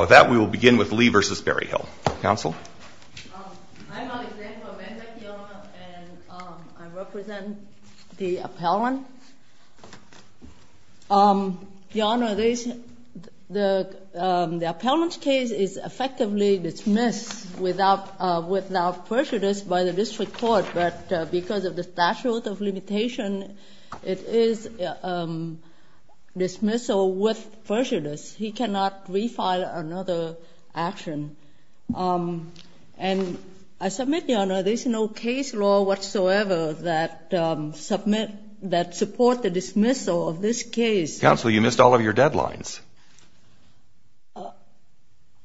With that, we will begin with Lee v. Berryhill. Council? I'm Alexander Amendek, Your Honor, and I represent the appellant. Your Honor, the appellant's case is effectively dismissed without prejudice by the District Court, but because of the statute of limitation, it is dismissal with prejudice. He cannot refile another action. And I submit, Your Honor, there's no case law whatsoever that support the dismissal of this case. Counsel, you missed all of your deadlines.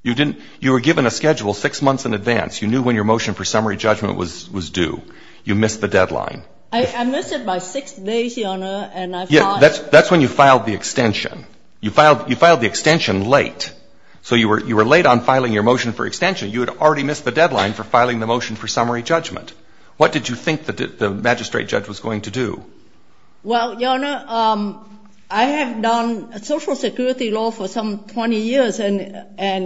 You were given a schedule six months in advance. You knew when your motion for summary judgment was due. You missed the deadline. I missed it by six days, Your Honor, and I filed... Yes, that's when you filed the extension. You filed the extension late. So you were late on filing your motion for extension. You had already missed the deadline for filing the motion for summary judgment. What did you think the magistrate judge was going to do? Well, Your Honor, I have done social security law for some 20 years, and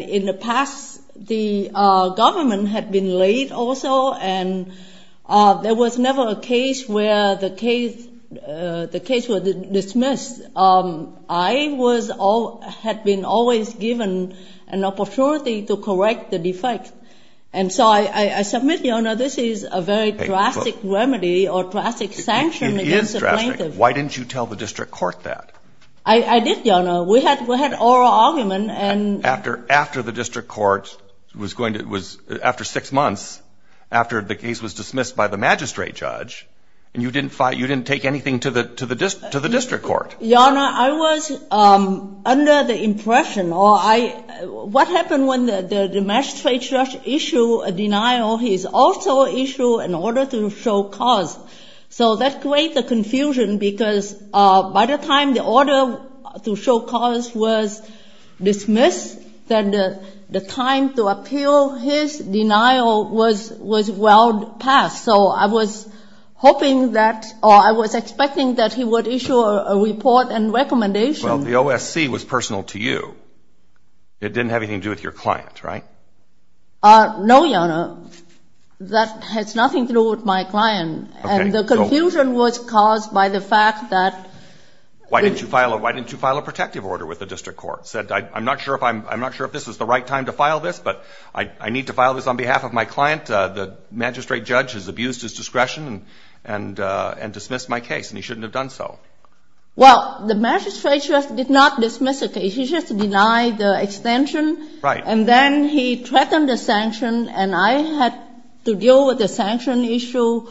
in the past, the government had been late also, and there was never a case where the case was dismissed. I had been always given an opportunity to correct the defect. And so I submit, Your Honor, this is a very drastic remedy or drastic sanction. It is drastic. Why didn't you tell the district court that? I did, Your Honor. We had oral argument, and... After the district court was going to... It was after six months after the case was dismissed by the magistrate judge, and you didn't take anything to the district court. Your Honor, I was under the impression or I... What happened when the magistrate judge issue a denial? He also issue an order to show cause. So that create the confusion because by the time the order to show cause was dismissed, then the time to appeal his denial was well past. So I was hoping that or I was expecting that he would issue a report and recommendation. Well, the OSC was personal to you. It didn't have anything to do with your client, right? No, Your Honor. That has nothing to do with my client. Okay. And the confusion was caused by the fact that... Why didn't you file a protective order with the district court? Said, I'm not sure if this is the right time to file this, but I need to file this on behalf of my client. The magistrate judge has abused his discretion and dismissed my case, and he shouldn't have done so. Well, the magistrate judge did not dismiss the case. He just denied the extension. Right. And then he threatened the sanction, and I had to deal with the sanction issue.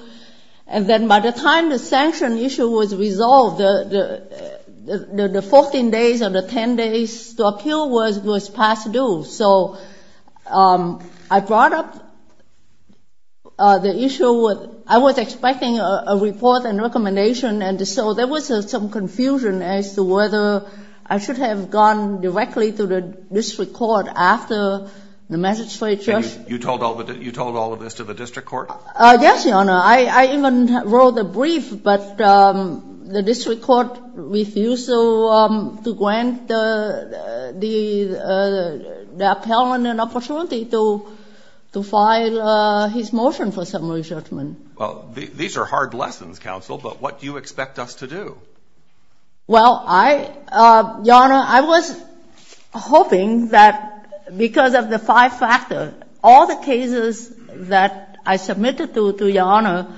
And then by the time the sanction issue was resolved, the 14 days or the 10 days to appeal was past due. So I brought up the issue with I was expecting a report and recommendation, and so there was some confusion as to whether I should have gone directly to the district court after the magistrate judge. You told all of this to the district court? Yes, Your Honor. I even wrote a brief, but the district court refused to grant the appellant an opportunity to file his motion for summary judgment. Well, these are hard lessons, counsel, but what do you expect us to do? Well, I, Your Honor, I was hoping that because of the five factors, all the cases that I submitted to Your Honor,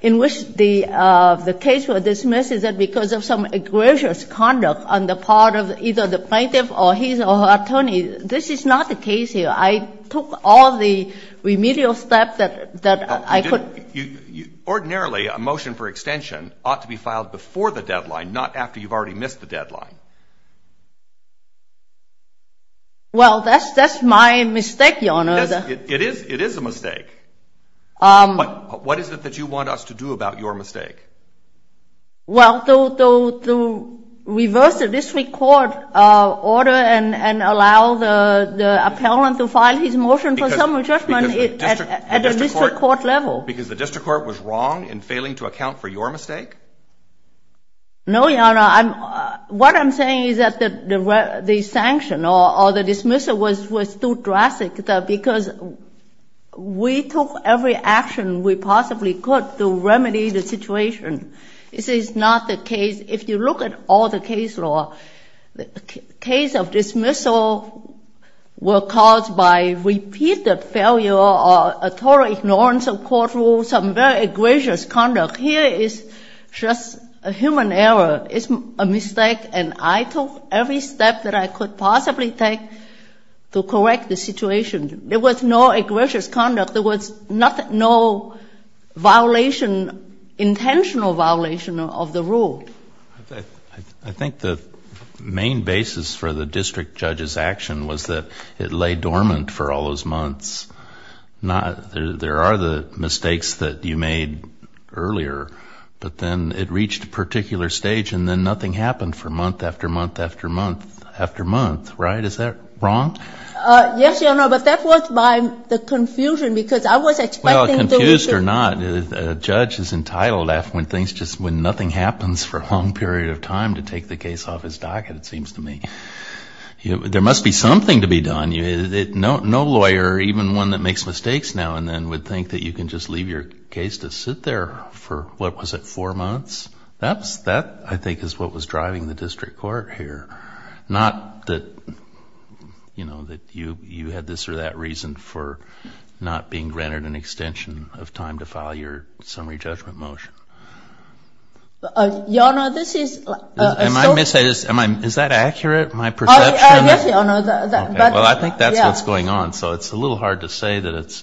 in which the case was dismissed is that because of some egregious conduct on the part of either the plaintiff or his or her attorney. This is not the case here. I took all the remedial steps that I could. Ordinarily, a motion for extension ought to be filed before the deadline, not after you've already missed the deadline. Well, that's my mistake, Your Honor. It is a mistake. What is it that you want us to do about your mistake? Well, to reverse the district court order and allow the appellant to file his motion for summary judgment at the district court level. Because the district court was wrong in failing to account for your mistake? No, Your Honor. This is not the case. If you look at all the case law, the case of dismissal were caused by repeated failure or a total ignorance of court rules, some very egregious conduct. Here is just a human error. It's a mistake, and I took every step that I could possibly take to correct the situation. There was no egregious conduct. There was no violation, intentional violation of the rule. I think the main basis for the district judge's action was that it lay dormant for all those months. There are the mistakes that you made earlier, but then it reached a particular stage, and then nothing happened for month after month after month after month, right? Is that wrong? Yes, Your Honor. But that was by the confusion, because I was expecting to... Well, confused or not, a judge is entitled, when nothing happens for a long period of time, to take the case off his docket, it seems to me. There must be something to be done. No lawyer, even one that makes mistakes now and then, would think that you can just leave your case to sit there for, what was it, four months? That, I think, is what was driving the district court here. Not that you had this or that reason for not being granted an extension of time to file your summary judgment motion. Your Honor, this is... Is that accurate, my perception? Yes, Your Honor. Well, I think that's what's going on, so it's a little hard to say that it's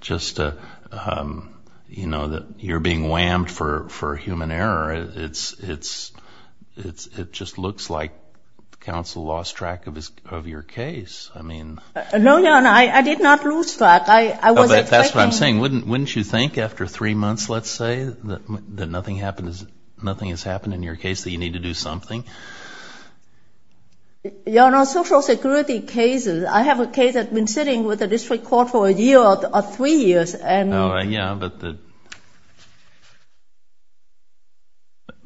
just that you're being whammed for human error. It just looks like counsel lost track of your case. I mean... No, Your Honor, I did not lose track. I was expecting... That's what I'm saying. Wouldn't you think, after three months, let's say, that nothing has happened in your case, that you need to do something? Your Honor, social security cases, I have a case that's been sitting with the district court for a year or three years, and... Yeah,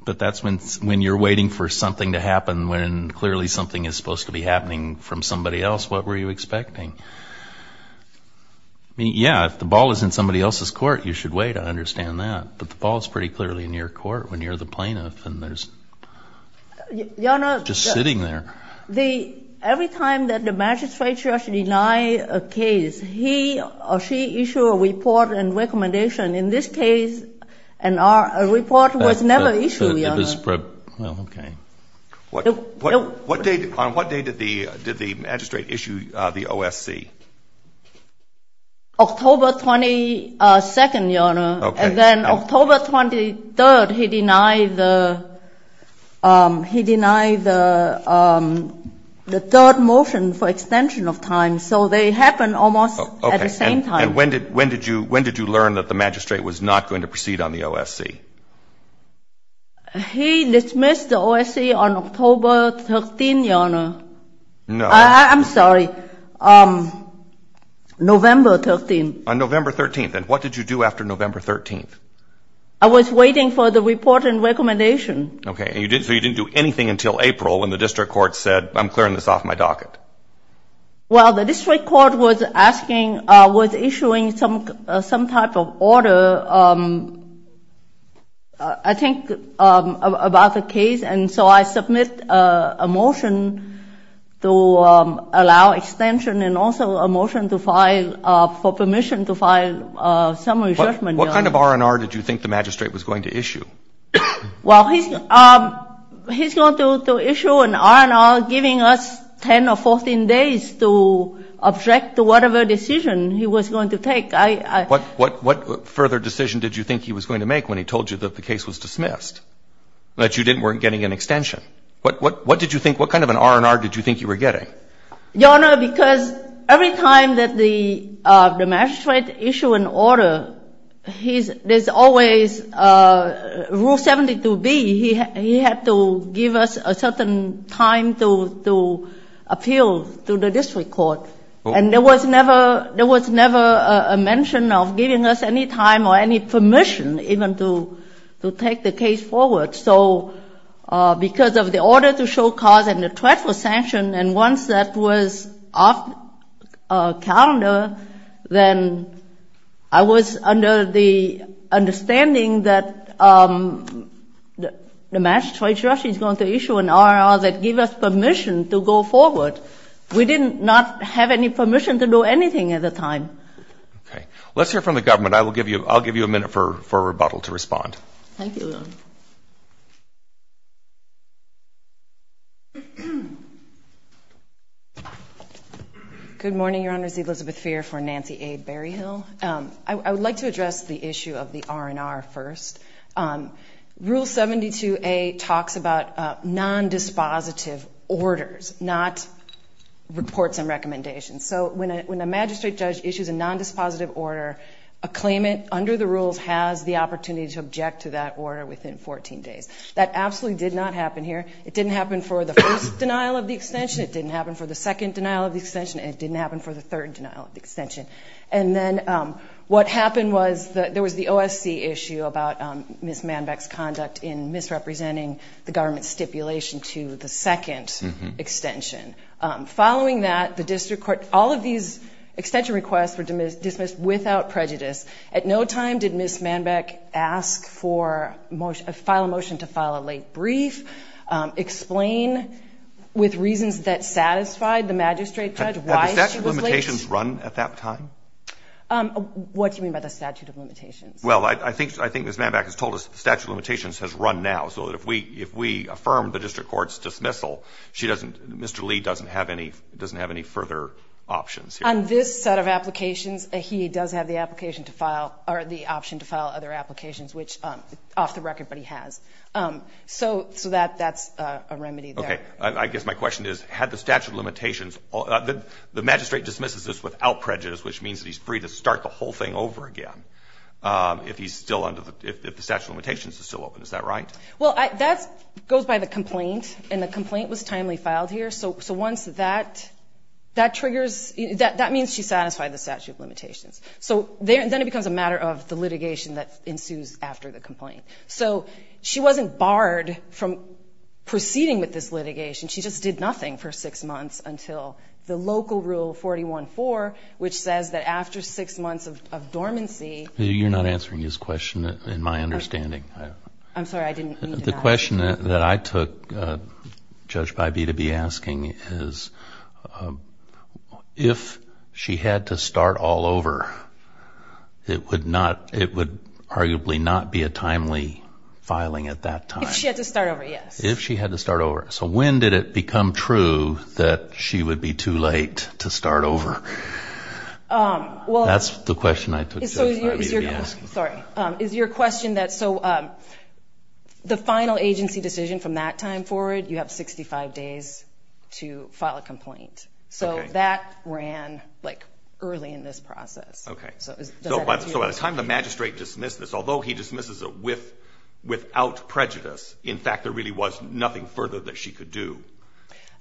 but that's when you're waiting for something to happen when clearly something is supposed to be happening from somebody else. What were you expecting? I mean, yeah, if the ball is in somebody else's court, you should wait. I understand that. But the ball is pretty clearly in your court when you're the plaintiff, and there's... Your Honor... Just sitting there. Every time that the magistrate judge denied a case, he or she issued a report and recommendation. In this case, a report was never issued, Your Honor. It was... Well, okay. On what day did the magistrate issue the OSC? October 22nd, Your Honor. Okay. And then October 23rd, he denied the third motion for extension of time. So they happened almost at the same time. Okay. And when did you learn that the magistrate was not going to proceed on the OSC? He dismissed the OSC on October 13th, Your Honor. No. I'm sorry. November 13th. On November 13th. And what did you do after November 13th? I was waiting for the report and recommendation. Okay. So you didn't do anything until April when the district court said, I'm clearing this off my docket. Well, the district court was asking, was issuing some type of order, I think, about the case. And so I submit a motion to allow extension and also a motion to file for permission to file summary judgment. What kind of R&R did you think the magistrate was going to issue? Well, he's going to issue an R&R giving us 10 or 14 days to object to whatever decision he was going to take. What further decision did you think he was going to make when he told you that the case was dismissed? That you weren't getting an extension. What did you think, what kind of an R&R did you think you were getting? Your Honor, because every time that the magistrate issued an order, there's always rule 72B. He had to give us a certain time to appeal to the district court. And there was never a mention of giving us any time or any permission even to take the case forward. So because of the order to show cause and the threat for sanction, and once that was off calendar, then I was under the understanding that the magistrate's going to issue an R&R that give us permission to go forward. We did not have any permission to do anything at the time. Okay. Let's hear from the government. I'll give you a minute for rebuttal to respond. Thank you, Your Honor. Good morning, Your Honors. Elizabeth Feer for Nancy A. Berryhill. I would like to address the issue of the R&R first. Rule 72A talks about non-dispositive orders, not reports and recommendations. So when a magistrate judge issues a non-dispositive order, a claimant, under the rules, has the opportunity to object to that order within 14 days. That absolutely did not happen here. It didn't happen for the first denial of the extension. It didn't happen for the second denial of the extension. And it didn't happen for the third denial of the extension. And then what happened was there was the OSC issue about Ms. Manbeck's conduct in misrepresenting the government's stipulation to the second extension. Following that, the district court, all of these extension requests were dismissed without prejudice. At no time did Ms. Manbeck ask for a motion to file a late brief, explain with reasons that satisfied the magistrate judge why she was late. Had the statute of limitations run at that time? What do you mean by the statute of limitations? Well, I think Ms. Manbeck has told us the statute of limitations has run now. So if we affirm the district court's dismissal, Mr. Lee doesn't have any further options here. On this set of applications, he does have the option to file other applications, which is off the record, but he has. So that's a remedy there. Okay. I guess my question is, had the statute of limitations, the magistrate dismisses this without prejudice, which means that he's free to start the whole thing over again if the statute of limitations is still open. Is that right? Well, that goes by the complaint, and the complaint was timely filed here. So once that triggers, that means she satisfied the statute of limitations. So then it becomes a matter of the litigation that ensues after the complaint. So she wasn't barred from proceeding with this litigation. She just did nothing for six months until the local rule 41-4, which says that after six months of dormancy. You're not answering his question in my understanding. I'm sorry. I didn't mean to. The question that I took Judge Bybee to be asking is, if she had to start all over, it would arguably not be a timely filing at that time. If she had to start over, yes. If she had to start over. So when did it become true that she would be too late to start over? That's the question I took Judge Bybee to be asking. Sorry. Is your question that so the final agency decision from that time forward, you have 65 days to file a complaint. So that ran early in this process. Okay. So at the time the magistrate dismissed this, although he dismisses it without prejudice, in fact there really was nothing further that she could do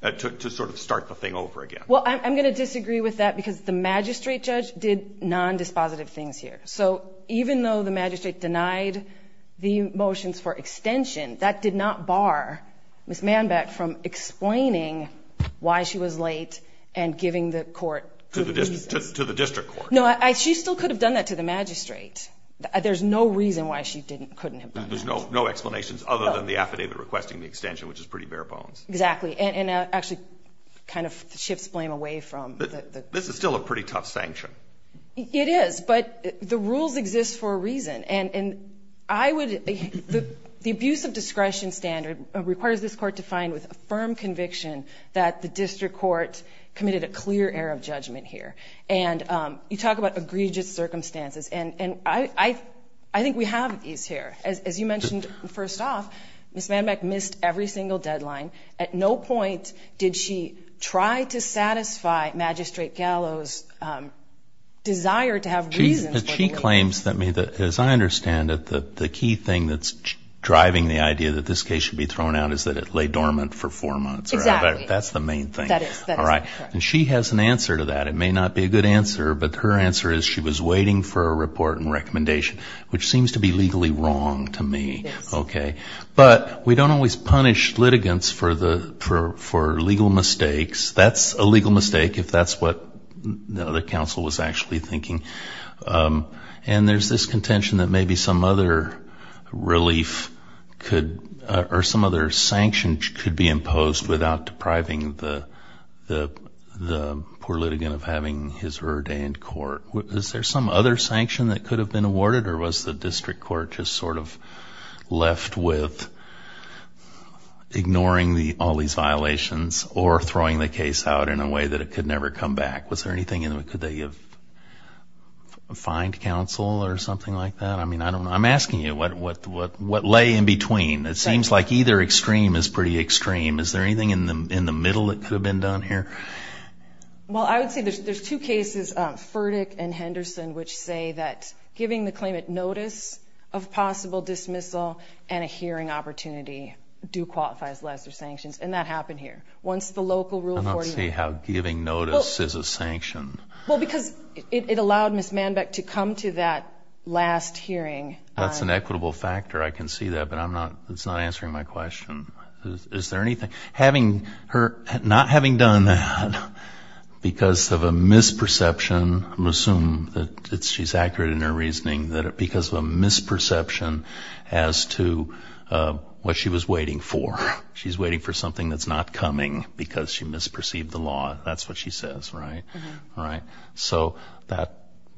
to sort of start the thing over again. Well, I'm going to disagree with that because the magistrate judge did non-dispositive things here. So even though the magistrate denied the motions for extension, that did not bar Ms. Manbeck from explaining why she was late and giving the court reasons. To the district court. No, she still could have done that to the magistrate. There's no reason why she couldn't have done that. There's no explanations other than the affidavit requesting the extension, which is pretty bare bones. Exactly. And actually kind of shifts blame away from. This is still a pretty tough sanction. It is. But the rules exist for a reason. And I would, the abuse of discretion standard requires this court to find with a firm conviction that the district court committed a clear error of judgment here. And you talk about egregious circumstances. And I think we have these here. As you mentioned first off, Ms. Manbeck missed every single deadline. At no point did she try to satisfy Magistrate Gallo's desire to have reasons. She claims that, as I understand it, the key thing that's driving the idea that this case should be thrown out is that it lay dormant for four months. Exactly. That's the main thing. All right. And she has an answer to that. It may not be a good answer, but her answer is she was waiting for a report and recommendation, which seems to be legally wrong to me. Okay. But we don't always punish litigants for legal mistakes. That's a legal mistake, if that's what the other counsel was actually thinking. And there's this contention that maybe some other relief could, or some other sanction could be imposed without depriving the poor litigant of having his ordained court. Is there some other sanction that could have been awarded, or was the district court just sort of left with ignoring all these violations or throwing the case out in a way that it could never come back? Was there anything in the way? Could they have fined counsel or something like that? I mean, I don't know. I'm asking you what lay in between. It seems like either extreme is pretty extreme. Is there anything in the middle that could have been done here? Well, I would say there's two cases, Furtick and Henderson, which say that giving the claimant notice of possible dismissal and a hearing opportunity do qualify as lesser sanctions, and that happened here. Once the local Rule 41. I don't see how giving notice is a sanction. Well, because it allowed Ms. Manbeck to come to that last hearing. That's an equitable factor. I can see that, but it's not answering my question. Is there anything? Not having done that, because of a misperception, I'm going to assume that she's accurate in her reasoning, because of a misperception as to what she was waiting for. She's waiting for something that's not coming because she misperceived the law. That's what she says, right? So that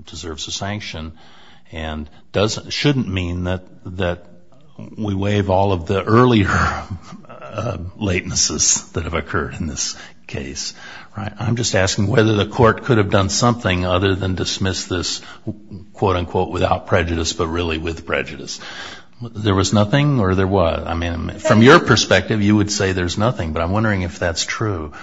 deserves a sanction. It shouldn't mean that we waive all of the earlier latencies that have occurred in this case. I'm just asking whether the court could have done something other than dismiss this, quote, unquote, without prejudice, but really with prejudice. There was nothing, or there was? From your perspective, you would say there's nothing, but I'm wondering if that's true.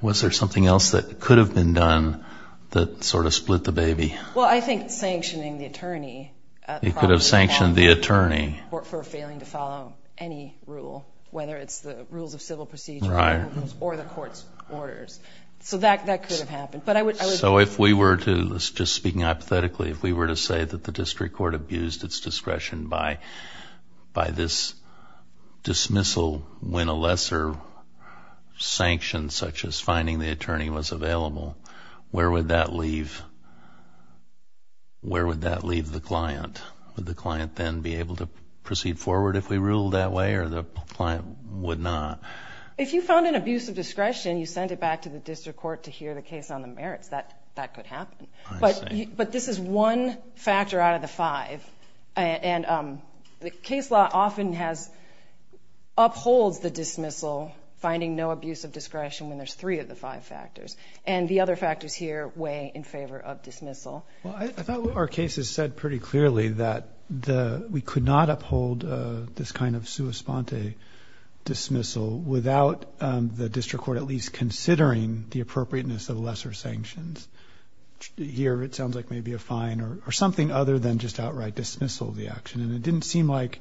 Was there something else that could have been done that sort of split the baby? Well, I think sanctioning the attorney. You could have sanctioned the attorney. For failing to follow any rule, whether it's the rules of civil procedure or the court's orders. So that could have happened. So if we were to, just speaking hypothetically, if we were to say that the district court abused its discretion by this dismissal when a lesser sanction such as fining the attorney was available, where would that leave the client? Would the client then be able to proceed forward if we ruled that way, or the client would not? If you found an abuse of discretion, you sent it back to the district court to hear the case on the merits. That could happen. But this is one factor out of the five, and the case law often upholds the dismissal, finding no abuse of discretion when there's three of the five factors. And the other factors here weigh in favor of dismissal. Well, I thought our case has said pretty clearly that we could not uphold this kind of sua sponte dismissal without the district court at least considering the appropriateness of lesser sanctions. Here, it sounds like maybe a fine or something other than just outright dismissal of the action. And it didn't seem like,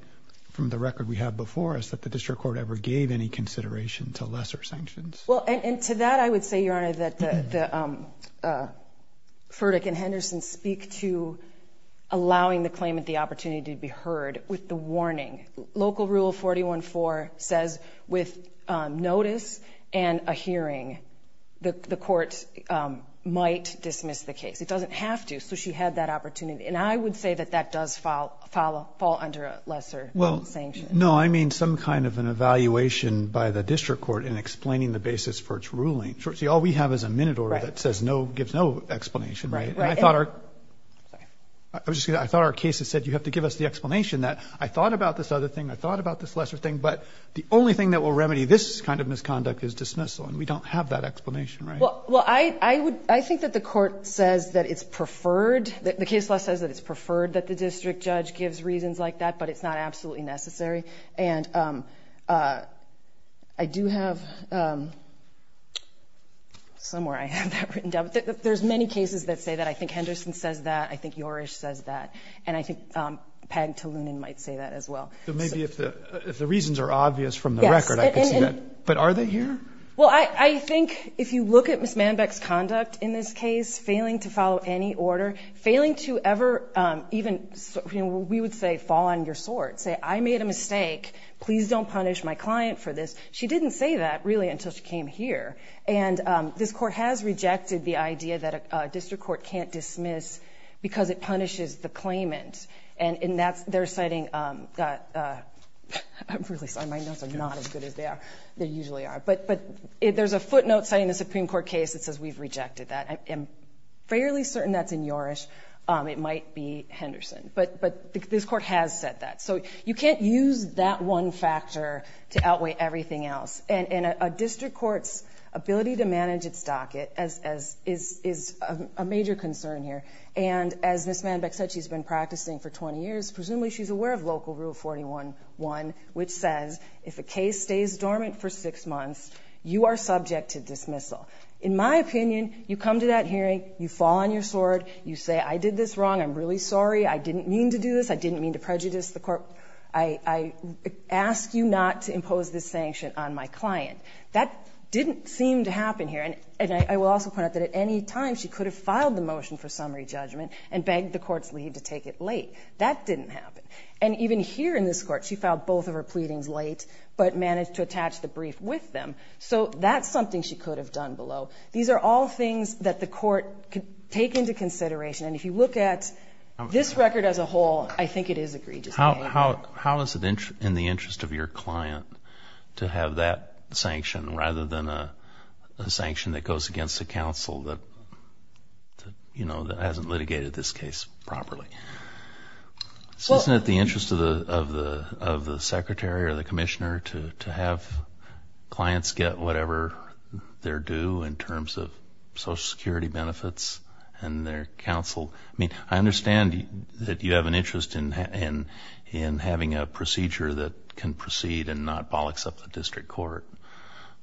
from the record we have before us, that the district court ever gave any consideration to lesser sanctions. Well, and to that I would say, Your Honor, that Furtick and Henderson speak to allowing the claimant the opportunity to be heard with the warning. Local Rule 41-4 says with notice and a hearing, the court might dismiss the case. It doesn't have to, so she had that opportunity. And I would say that that does fall under a lesser sanction. No, I mean some kind of an evaluation by the district court in explaining the basis for its ruling. See, all we have is a minute order that says no, gives no explanation, right? And I thought our case has said you have to give us the explanation that I thought about this other thing, I thought about this lesser thing, but the only thing that will remedy this kind of misconduct is dismissal. And we don't have that explanation, right? Well, I think that the court says that it's preferred, the case law says that it's preferred that the district judge gives reasons like that, but it's not absolutely necessary. And I do have somewhere I have that written down. There's many cases that say that. I think Henderson says that. I think Yorish says that. And I think Peg Taloonan might say that as well. So maybe if the reasons are obvious from the record, I could see that. But are they here? Well, I think if you look at Ms. Manbeck's conduct in this case, failing to follow any order, failing to ever even, you know, we would say fall on your sword, say I made a mistake, please don't punish my client for this. She didn't say that, really, until she came here. And this court has rejected the idea that a district court can't dismiss because it punishes the claimant. And they're citing, I'm really sorry, my notes are not as good as they usually are. But there's a footnote citing the Supreme Court case that says we've rejected that. I'm fairly certain that's in Yorish. It might be Henderson. But this court has said that. So you can't use that one factor to outweigh everything else. And a district court's ability to manage its docket is a major concern here. And as Ms. Manbeck said, she's been practicing for 20 years. Presumably she's aware of Local Rule 41-1, which says if a case stays dormant for six months, you are subject to dismissal. In my opinion, you come to that hearing, you fall on your sword, you say I did this wrong, I'm really sorry, I didn't mean to do this, I didn't mean to prejudice the court, I ask you not to impose this sanction on my client. That didn't seem to happen here. And I will also point out that at any time she could have filed the motion for summary judgment and begged the court's lead to take it late. That didn't happen. And even here in this court she filed both of her pleadings late but managed to attach the brief with them. So that's something she could have done below. These are all things that the court could take into consideration. And if you look at this record as a whole, I think it is egregious behavior. How is it in the interest of your client to have that sanction rather than a sanction that goes against the counsel that hasn't litigated this case properly? Isn't it in the interest of the secretary or the commissioner to have clients get whatever they're due in terms of Social Security benefits and their counsel? I mean, I understand that you have an interest in having a procedure that can proceed and not bollocks up the district court.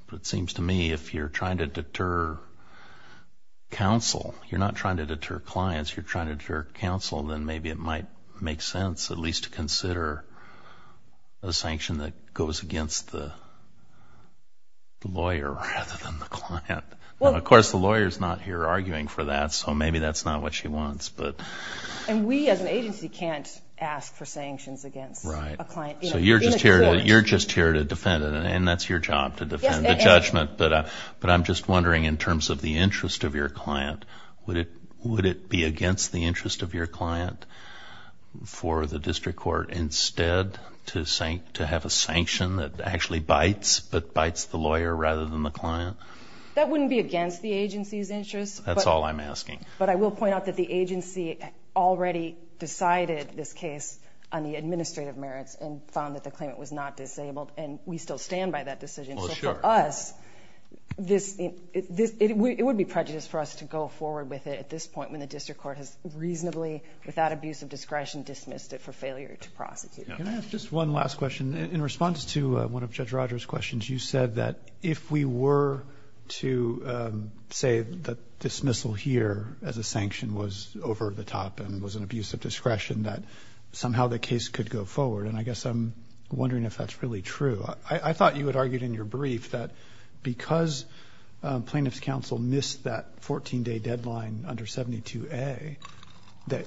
But it seems to me if you're trying to deter counsel, you're not trying to deter clients, you're trying to deter counsel, then maybe it might make sense at least to consider a sanction that goes against the lawyer rather than the client. Of course, the lawyer is not here arguing for that, so maybe that's not what she wants. And we as an agency can't ask for sanctions against a client. So you're just here to defend it, and that's your job, to defend the judgment. But I'm just wondering in terms of the interest of your client, would it be against the interest of your client for the district court instead to have a sanction that actually bites but bites the lawyer rather than the client? That wouldn't be against the agency's interest. That's all I'm asking. But I will point out that the agency already decided this case on the administrative merits and found that the claimant was not disabled, and we still stand by that decision. So for us, it would be prejudiced for us to go forward with it at this point when the district court has reasonably, without abuse of discretion, dismissed it for failure to prosecute. Can I ask just one last question? In response to one of Judge Rogers' questions, you said that if we were to say that dismissal here as a sanction was over the top and was an abuse of discretion, that somehow the case could go forward. And I guess I'm wondering if that's really true. I thought you had argued in your brief that because plaintiff's counsel missed that 14-day deadline under 72A, that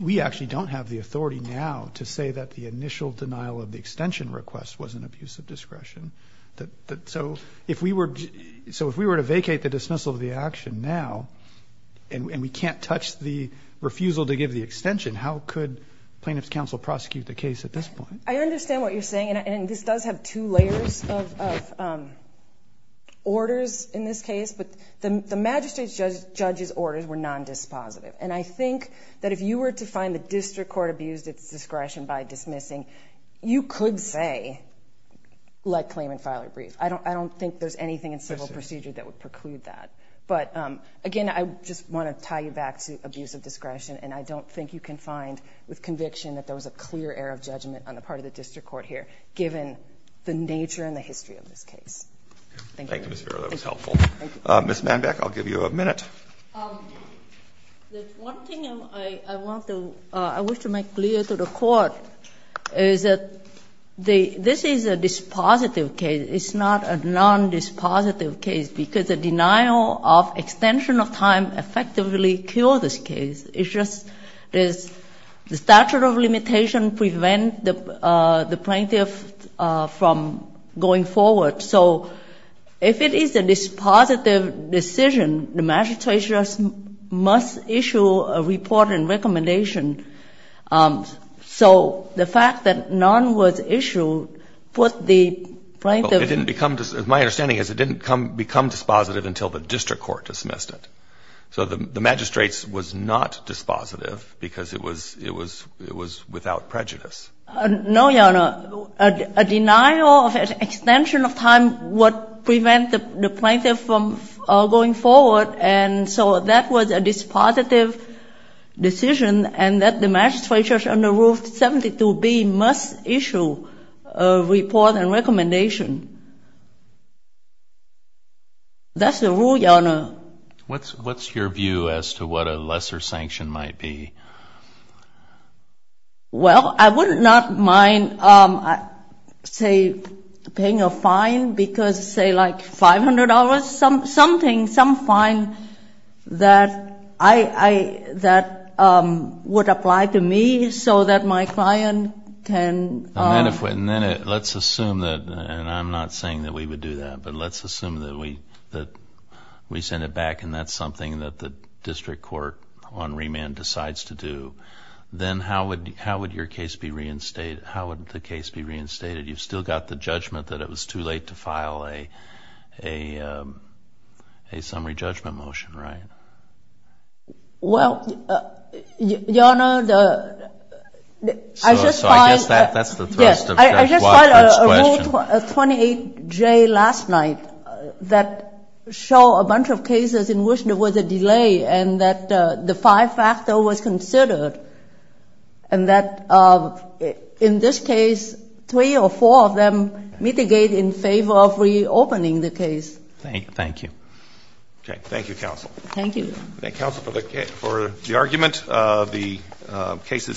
we actually don't have the authority now to say that the initial denial of the extension request was an abuse of discretion. So if we were to vacate the dismissal of the action now and we can't touch the refusal to give the extension, how could plaintiff's counsel prosecute the case at this point? I understand what you're saying, and this does have two layers of orders in this case. But the magistrate's judge's orders were non-dispositive. And I think that if you were to find the district court abused its discretion by dismissing, you could say, let claimant file a brief. I don't think there's anything in civil procedure that would preclude that. But, again, I just want to tie you back to abuse of discretion, and I don't think you can find with conviction that there was a clear error of judgment on the part of the district court here, given the nature and the history of this case. Thank you. Thank you, Ms. Farrow. That was helpful. Ms. Manbeck, I'll give you a minute. The one thing I want to make clear to the court is that this is a dispositive case. It's not a non-dispositive case because the denial of extension of time effectively cured this case. It's just the statute of limitation prevents the plaintiff from going forward. So if it is a dispositive decision, the magistrates must issue a report and recommendation. So the fact that none was issued put the plaintiff ---- My understanding is it didn't become dispositive until the district court dismissed it. So the magistrates was not dispositive because it was without prejudice. No, Your Honor. A denial of extension of time would prevent the plaintiff from going forward, and so that was a dispositive decision, and that the magistrates under Rule 72B must issue a report and recommendation. That's the rule, Your Honor. What's your view as to what a lesser sanction might be? Well, I would not mind, say, paying a fine because, say, like $500, something, some fine that would apply to me so that my client can ---- And then let's assume that, and I'm not saying that we would do that, but let's assume that we send it back and that's something that the district court on remand decides to do, then how would your case be reinstated? How would the case be reinstated? You've still got the judgment that it was too late to file a summary judgment motion, right? Well, Your Honor, I just find ---- I just find a Rule 28J last night that show a bunch of cases in which there was a delay and that the five-factor was considered and that, in this case, three or four of them mitigate in favor of reopening the case. Thank you. Okay. Thank you, counsel. Thank you. Thank you, counsel, for the argument. The case is submitted.